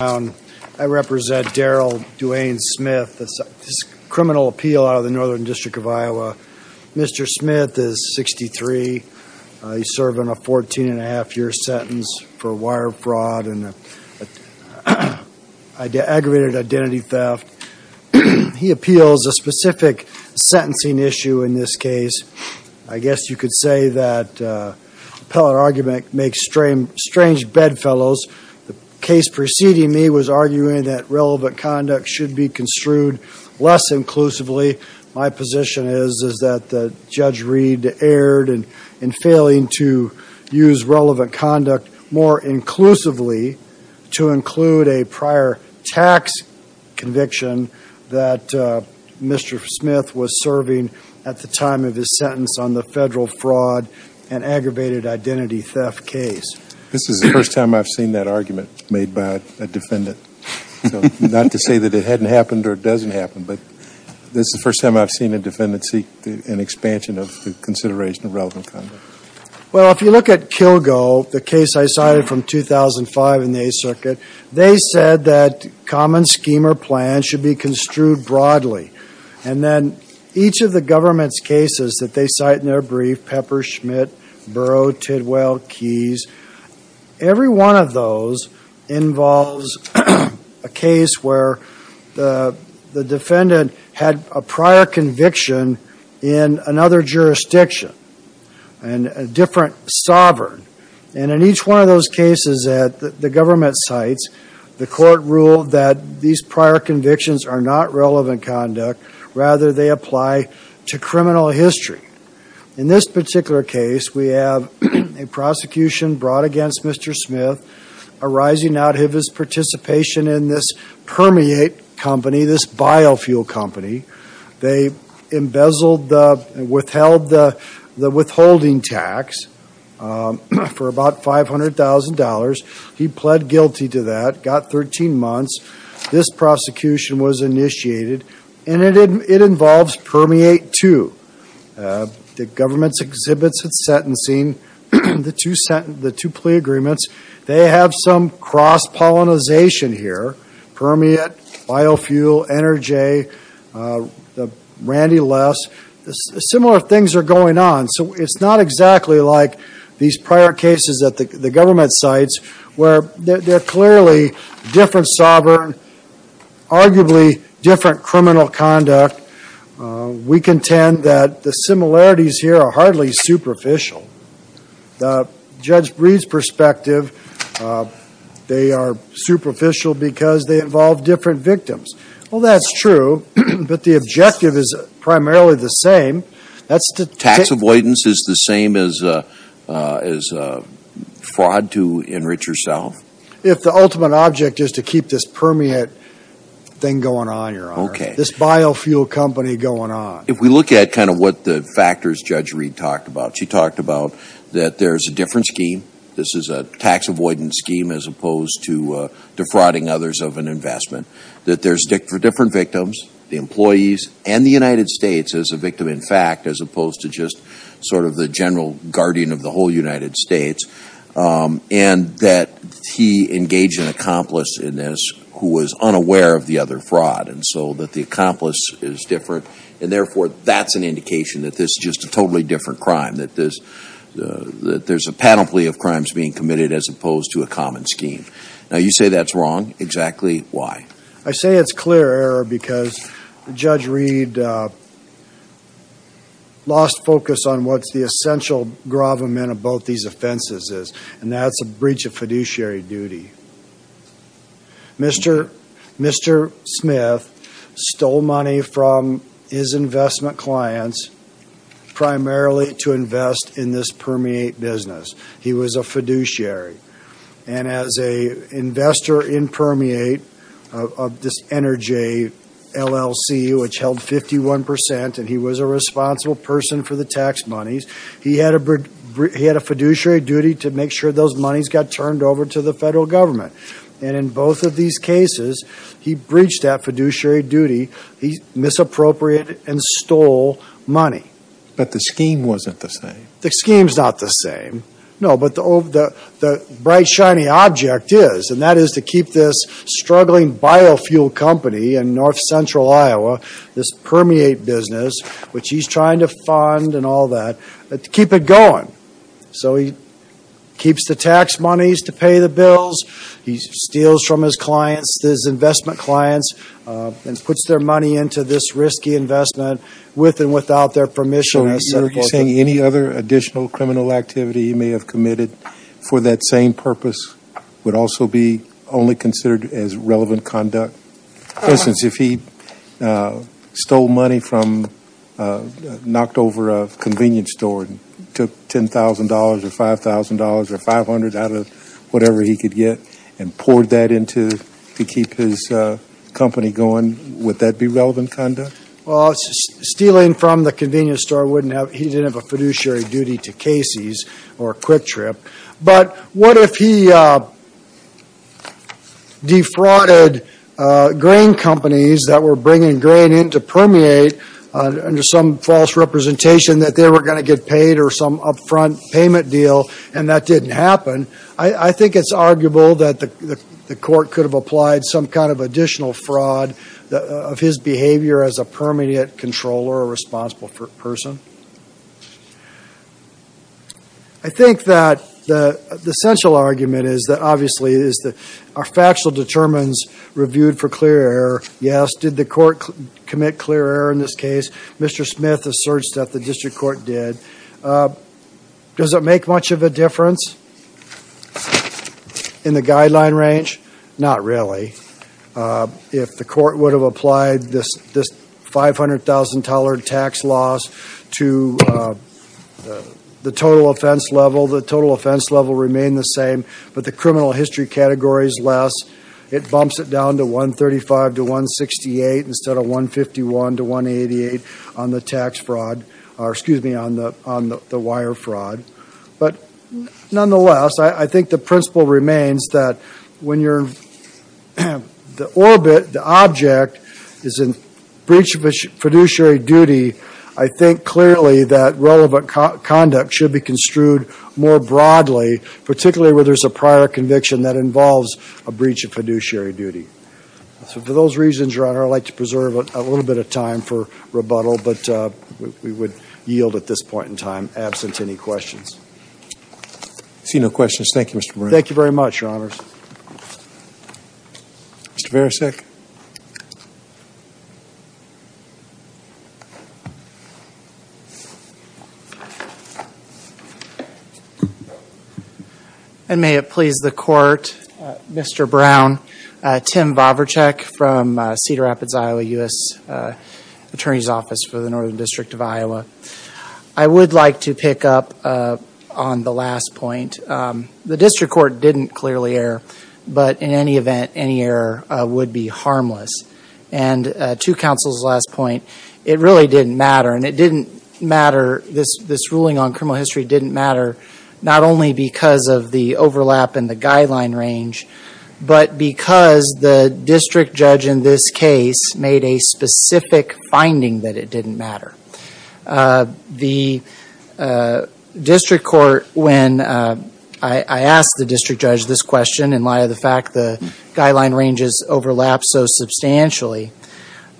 I represent Darrell Duane Smith. This is a criminal appeal out of the Northern District of Iowa. Mr. Smith is 63. He's serving a 14 1⁄2 year sentence for wire fraud and aggravated identity theft. He appeals a specific sentencing issue in this case. I guess you could say that appellate argument makes strange bedfellows. The case preceding me was arguing that relevant conduct should be construed less inclusively. My position is that Judge Reed erred in failing to use relevant conduct more inclusively to include a prior tax conviction that Mr. Smith was serving at the time of his sentence on the federal fraud and aggravated identity theft case. This is the first time I've seen that argument made by a defendant. Not to say that it hadn't happened or doesn't happen, but this is the first time I've seen a defendant seek an expansion of consideration of relevant conduct. Well, if you look at Kilgo, the case I cited from 2005 in the Eighth Circuit, they said that common scheme or plan should be Each of the government's cases that they cite in their brief, Pepper, Schmidt, Burrow, Tidwell, Keyes, every one of those involves a case where the defendant had a prior conviction in another jurisdiction and a different sovereign. And in each one of those cases that the government cites, the court ruled that these prior convictions are not relevant conduct, rather they apply to criminal history. In this particular case, we have a prosecution brought against Mr. Smith arising out of his participation in this permeate company, this biofuel company. They embezzled, withheld the withholding tax for about $500,000. He pled guilty to that, got 13 months. This prosecution was initiated, and it involves permeate, too. The government's exhibits its sentencing, the two plea agreements. They have some cross-pollinization here, permeate, biofuel, Ener-J, Randy Less. Similar things are going on. So it's not exactly like these are clearly different sovereign, arguably different criminal conduct. We contend that the similarities here are hardly superficial. Judge Breed's perspective, they are superficial because they involve different victims. Well, that's true, but the objective is primarily the same. Tax avoidance is the same as fraud to enrich yourself? If the ultimate object is to keep this permeate thing going on, Your Honor. Okay. This biofuel company going on. If we look at kind of what the factors Judge Breed talked about, she talked about that there's a different scheme. This is a tax avoidance scheme as opposed to defrauding others of an investment. That there's different victims, the employees, and the United States as a victim in fact, as opposed to just sort of the general guardian of the whole United States. And that he engaged an accomplice in this who was unaware of the other fraud. And so that the accomplice is different. And therefore, that's an indication that this is just a totally different crime. That there's a panoply of crimes being committed as opposed to a common scheme. Now, you say that's wrong. Exactly why? I say it's clear, Error, because Judge Breed lost focus on what's the essential gravamen of both these offenses is. And that's a breach of fiduciary duty. Mr. Smith stole money from his investment clients primarily to invest in this permeate business. He was a fiduciary. And as a investor in permeate of this Energe LLC, which held 51%, and he was a responsible person for the tax monies, he had a fiduciary duty to make sure those monies got turned over to the federal government. And in both of these cases, he breached that fiduciary duty. He misappropriated and stole money. But the scheme wasn't the same. The scheme's not the same. No, but the bright shiny object is, and that is to keep this struggling biofuel company in north central Iowa, this permeate business, which he's trying to fund and all that, to keep it going. So he keeps the tax monies to pay the bills. He steals from his clients, his investment clients, and puts their money into this risky investment with and without their permission. So you're saying any other additional criminal activity he may have committed for that same purpose would also be only considered as relevant conduct? For instance, if he stole money from, knocked over a convenience store, took $10,000 or $5,000 or $500 out of whatever he could get and poured that into to keep his company going, would that be relevant conduct? Well, stealing from the convenience store wouldn't have, he didn't have a fiduciary duty to Casey's or Quick Trip. But what if he defrauded grain companies that were bringing grain in to permeate under some false representation that they were going to get paid or some upfront payment deal and that didn't happen? I think it's arguable that the court could have applied some kind of additional fraud of his behavior as a permanent controller or responsible person. I think that the central argument is that, obviously, are factual determines reviewed for clear error? Yes. Did the court commit clear error in this case? Mr. Smith asserts that the district court did. Does it make much of a difference in the guideline range? Not really. If the court would have applied this $500,000 tax loss to the total offense level, the total offense level remained the same, but the criminal history category is less. It bumps it down to $135,000 to $168,000 instead of $151,000 to $188,000 on the tax fraud, or excuse me, on the wire fraud. But nonetheless, I think the principle remains that when the object is in breach of fiduciary duty, I think clearly that relevant conduct should be construed more broadly, particularly where there's a prior conviction that involves a breach of fiduciary duty. For those reasons, Your Honor, I'd like to preserve a little bit of time for rebuttal, but we would yield at this point in time, absent any questions. I see no questions. Thank you, Mr. Brown. Thank you very much, Your Honors. Mr. Varasek. And may it please the Court, Mr. Brown, Tim Vavracek from Cedar Rapids, Iowa, U.S. Attorney's Office for the Northern District of Iowa. I would like to pick up on the last point. The district court didn't clearly err, but in any event, any error would be harmless. And to counsel's last point, it really didn't matter, and it didn't matter, this ruling on criminal history didn't matter not only because of the overlap in the guideline range, but because the district judge in this case made a specific finding that it didn't matter. The district court, when I asked the district judge this question in light of the fact the guideline ranges overlap so substantially,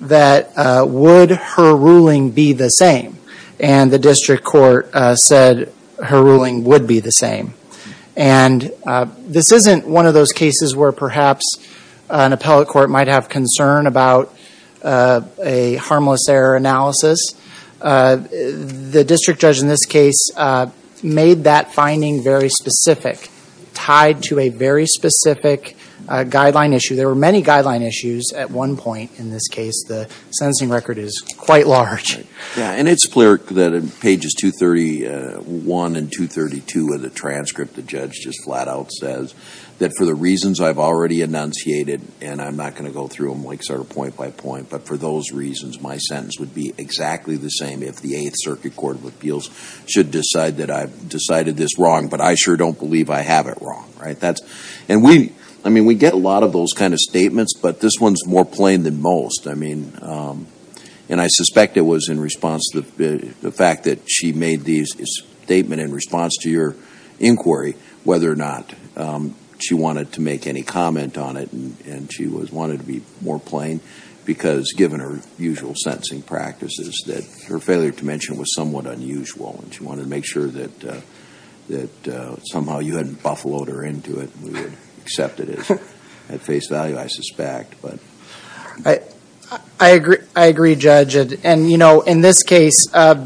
that would her ruling be the same? And the district court said her ruling would be the same. And this isn't one of those cases where perhaps an appellate court might have concern about a harmless error analysis. The district judge in this case made that finding very specific, tied to a very specific guideline issue. There were many guideline issues at one point in this case. The sentencing record is quite large. Yeah, and it's clear that in pages 231 and 232 of the transcript, the judge just flat out says that for the reasons I've already enunciated, and I'm not going to go through them point by point, but for those reasons, my sentence would be exactly the same if the Eighth Circuit Court of Appeals should decide that I've decided this wrong, but I sure don't believe I have it wrong. And we get a lot of those kind of statements, but this one's more plain than most. And I suspect it was in response to the fact that she made this statement in response to your inquiry, whether or not she wanted to make any comment on it, and she wanted to be more plain, because given her usual sentencing practices, that her failure to mention it was somewhat unusual, and she wanted to make sure that somehow you hadn't buffaloed her into it and we would have accepted it at face value, I suspect. I agree, Judge. And you know, in this case, as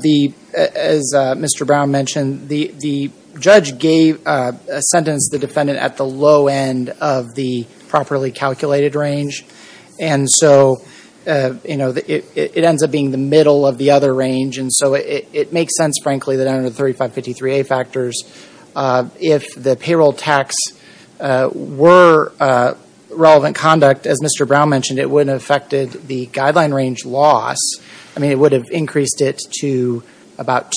Mr. Brown mentioned, the judge gave a sentence to the defendant at the low end of the properly calculated range, and so it ends up being the middle of the other range, and so it makes sense, frankly, that under the 3553A factors, if the payroll tax were relevant conduct, as Mr. Brown mentioned, it wouldn't have affected the guideline range loss. I mean, it would have increased it to about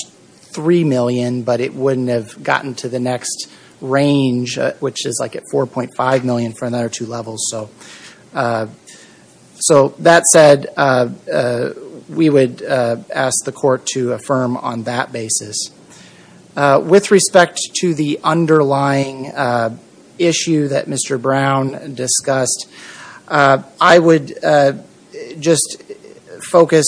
$3 million, but it wouldn't have gotten to the next range, which is like at $4.5 million for another two levels. So that said, we would ask the court to affirm on that basis. With respect to the underlying issue that Mr. Brown discussed, I would just focus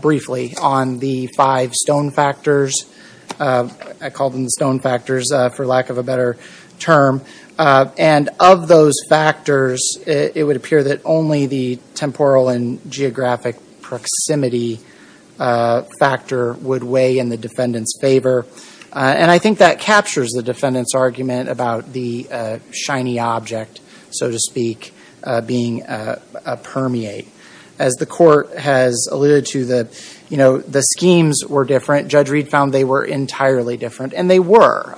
briefly on the five stone factors. I called them the stone factors for lack of a better term. And of those factors, it would appear that only the temporal and geographic proximity factor would weigh in the defendant's favor, and I think that captures the defendant's argument about the shiny object, so to speak, being a permeate. As the court has alluded to, the schemes were different. Judge Reed found they were entirely different, and they were.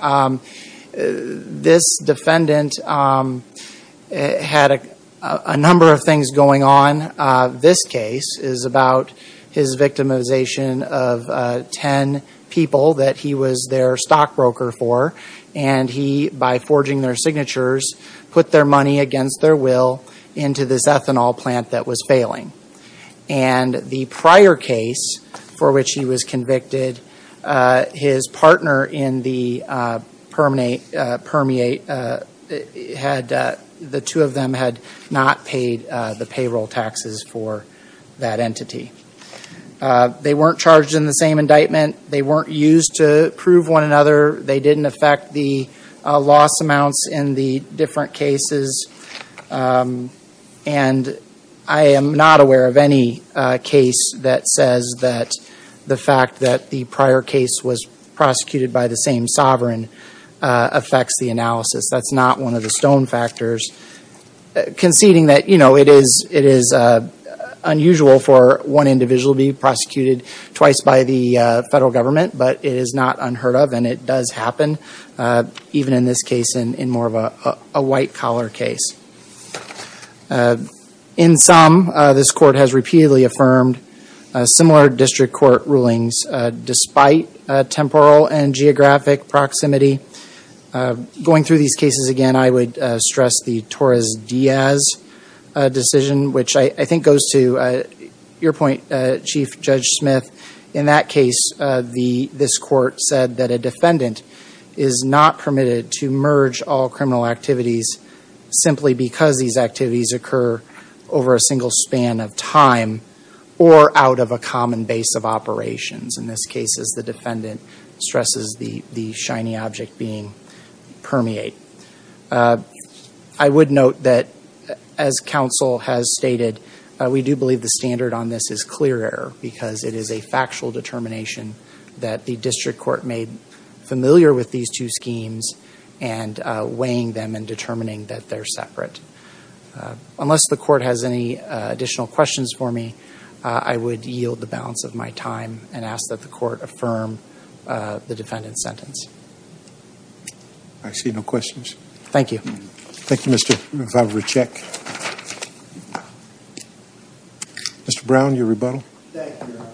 This defendant had a number of things going on. This case is about his victimization of 10 people that he was their stockbroker for, and he, by forging their signatures, put their money against their will into this ethanol plant that was failing. And the prior case for which he was convicted, his partner in the permeate, the two of them had not paid the payroll taxes for that entity. They weren't charged in the different cases, and I am not aware of any case that says that the fact that the prior case was prosecuted by the same sovereign affects the analysis. That's not one of the stone factors. Conceding that it is unusual for one individual to be prosecuted twice by the federal government, but it is not unheard of, and it does happen, even in this case in more of a white-collar case. In some, this court has repeatedly affirmed similar district court rulings despite temporal and geographic proximity. Going through these cases again, I would stress the Torres-Diaz decision, which I think goes to your point, Chief Judge Smith. In that case, this court said that a defendant is not permitted to merge all criminal activities simply because these activities occur over a single span of time or out of a common base of operations. In this case, as the defendant stresses the shiny object being permeate. I would note that as counsel has stated, we do believe the standard on this is clear error because it is a factual determination that the district court made familiar with these two schemes and weighing them and determining that they're separate. Unless the court has any additional questions for me, I would yield the balance of my time and ask that the court affirm the defendant's sentence. I see no questions. Thank you. Thank you, Mr. Vavracek. Mr. Brown, your rebuttal. Thank you, Your Honor.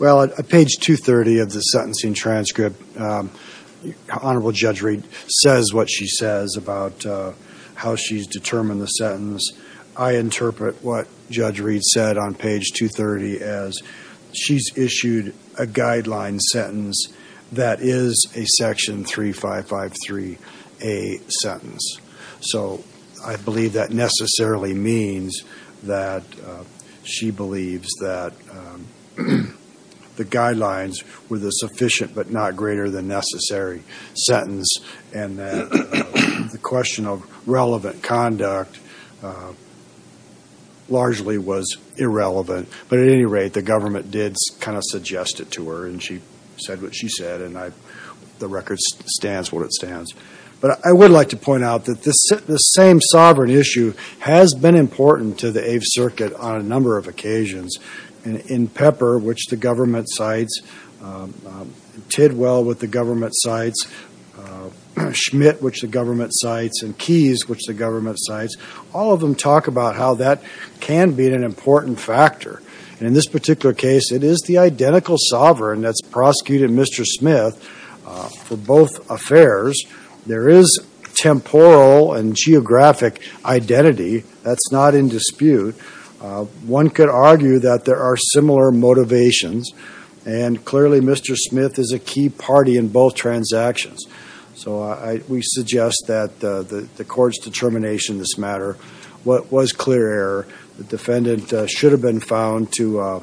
Well, at page 230 of the sentencing transcript, Honorable Judge Reed says what she says about how she's determined the sentence. I interpret what Judge Reed said on page 230 as she's issued a guideline sentence that is a section 3553A sentence. So I believe that necessarily means that she believes that the guidelines were the sufficient but not greater than necessary sentence and that the question of relevant conduct largely was irrelevant. But at any rate, the government did kind of suggest it to her and she said what she said and the record stands what it stands. But I would like to point out that the same sovereign issue has been important to the Eighth Circuit on a number of occasions. In Pepper, which the government cites, Tidwell, which the government cites, Schmidt, which the government cites, and Keyes, which the government cites, all of them talk about how that can be an important factor. And in this particular case, it is the identical sovereign that's prosecuted Mr. Schmidt for both affairs. There is temporal and geographic identity. That's not in dispute. One could argue that there are similar motivations and clearly Mr. Schmidt is a key party in both transactions. So we suggest that the court's determination in this matter was clear that the defendant should have been found to have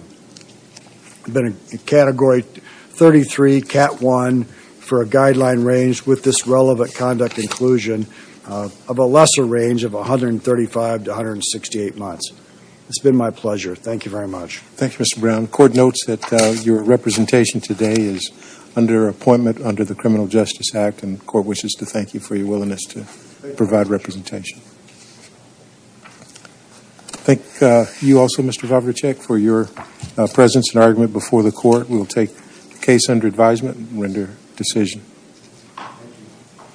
been a Category 33, Cat 1 for a guideline range with this relevant conduct inclusion of a lesser range of 135 to 168 months. It's been my pleasure. Thank you very much. Thank you, Mr. Brown. The court notes that your representation today is under appointment under the Criminal Justice Act and the court wishes to thank you for your willingness to provide representation. Thank you also, Mr. Zavicek, for your presence and argument before the court. We will take the case under advisement and render decision.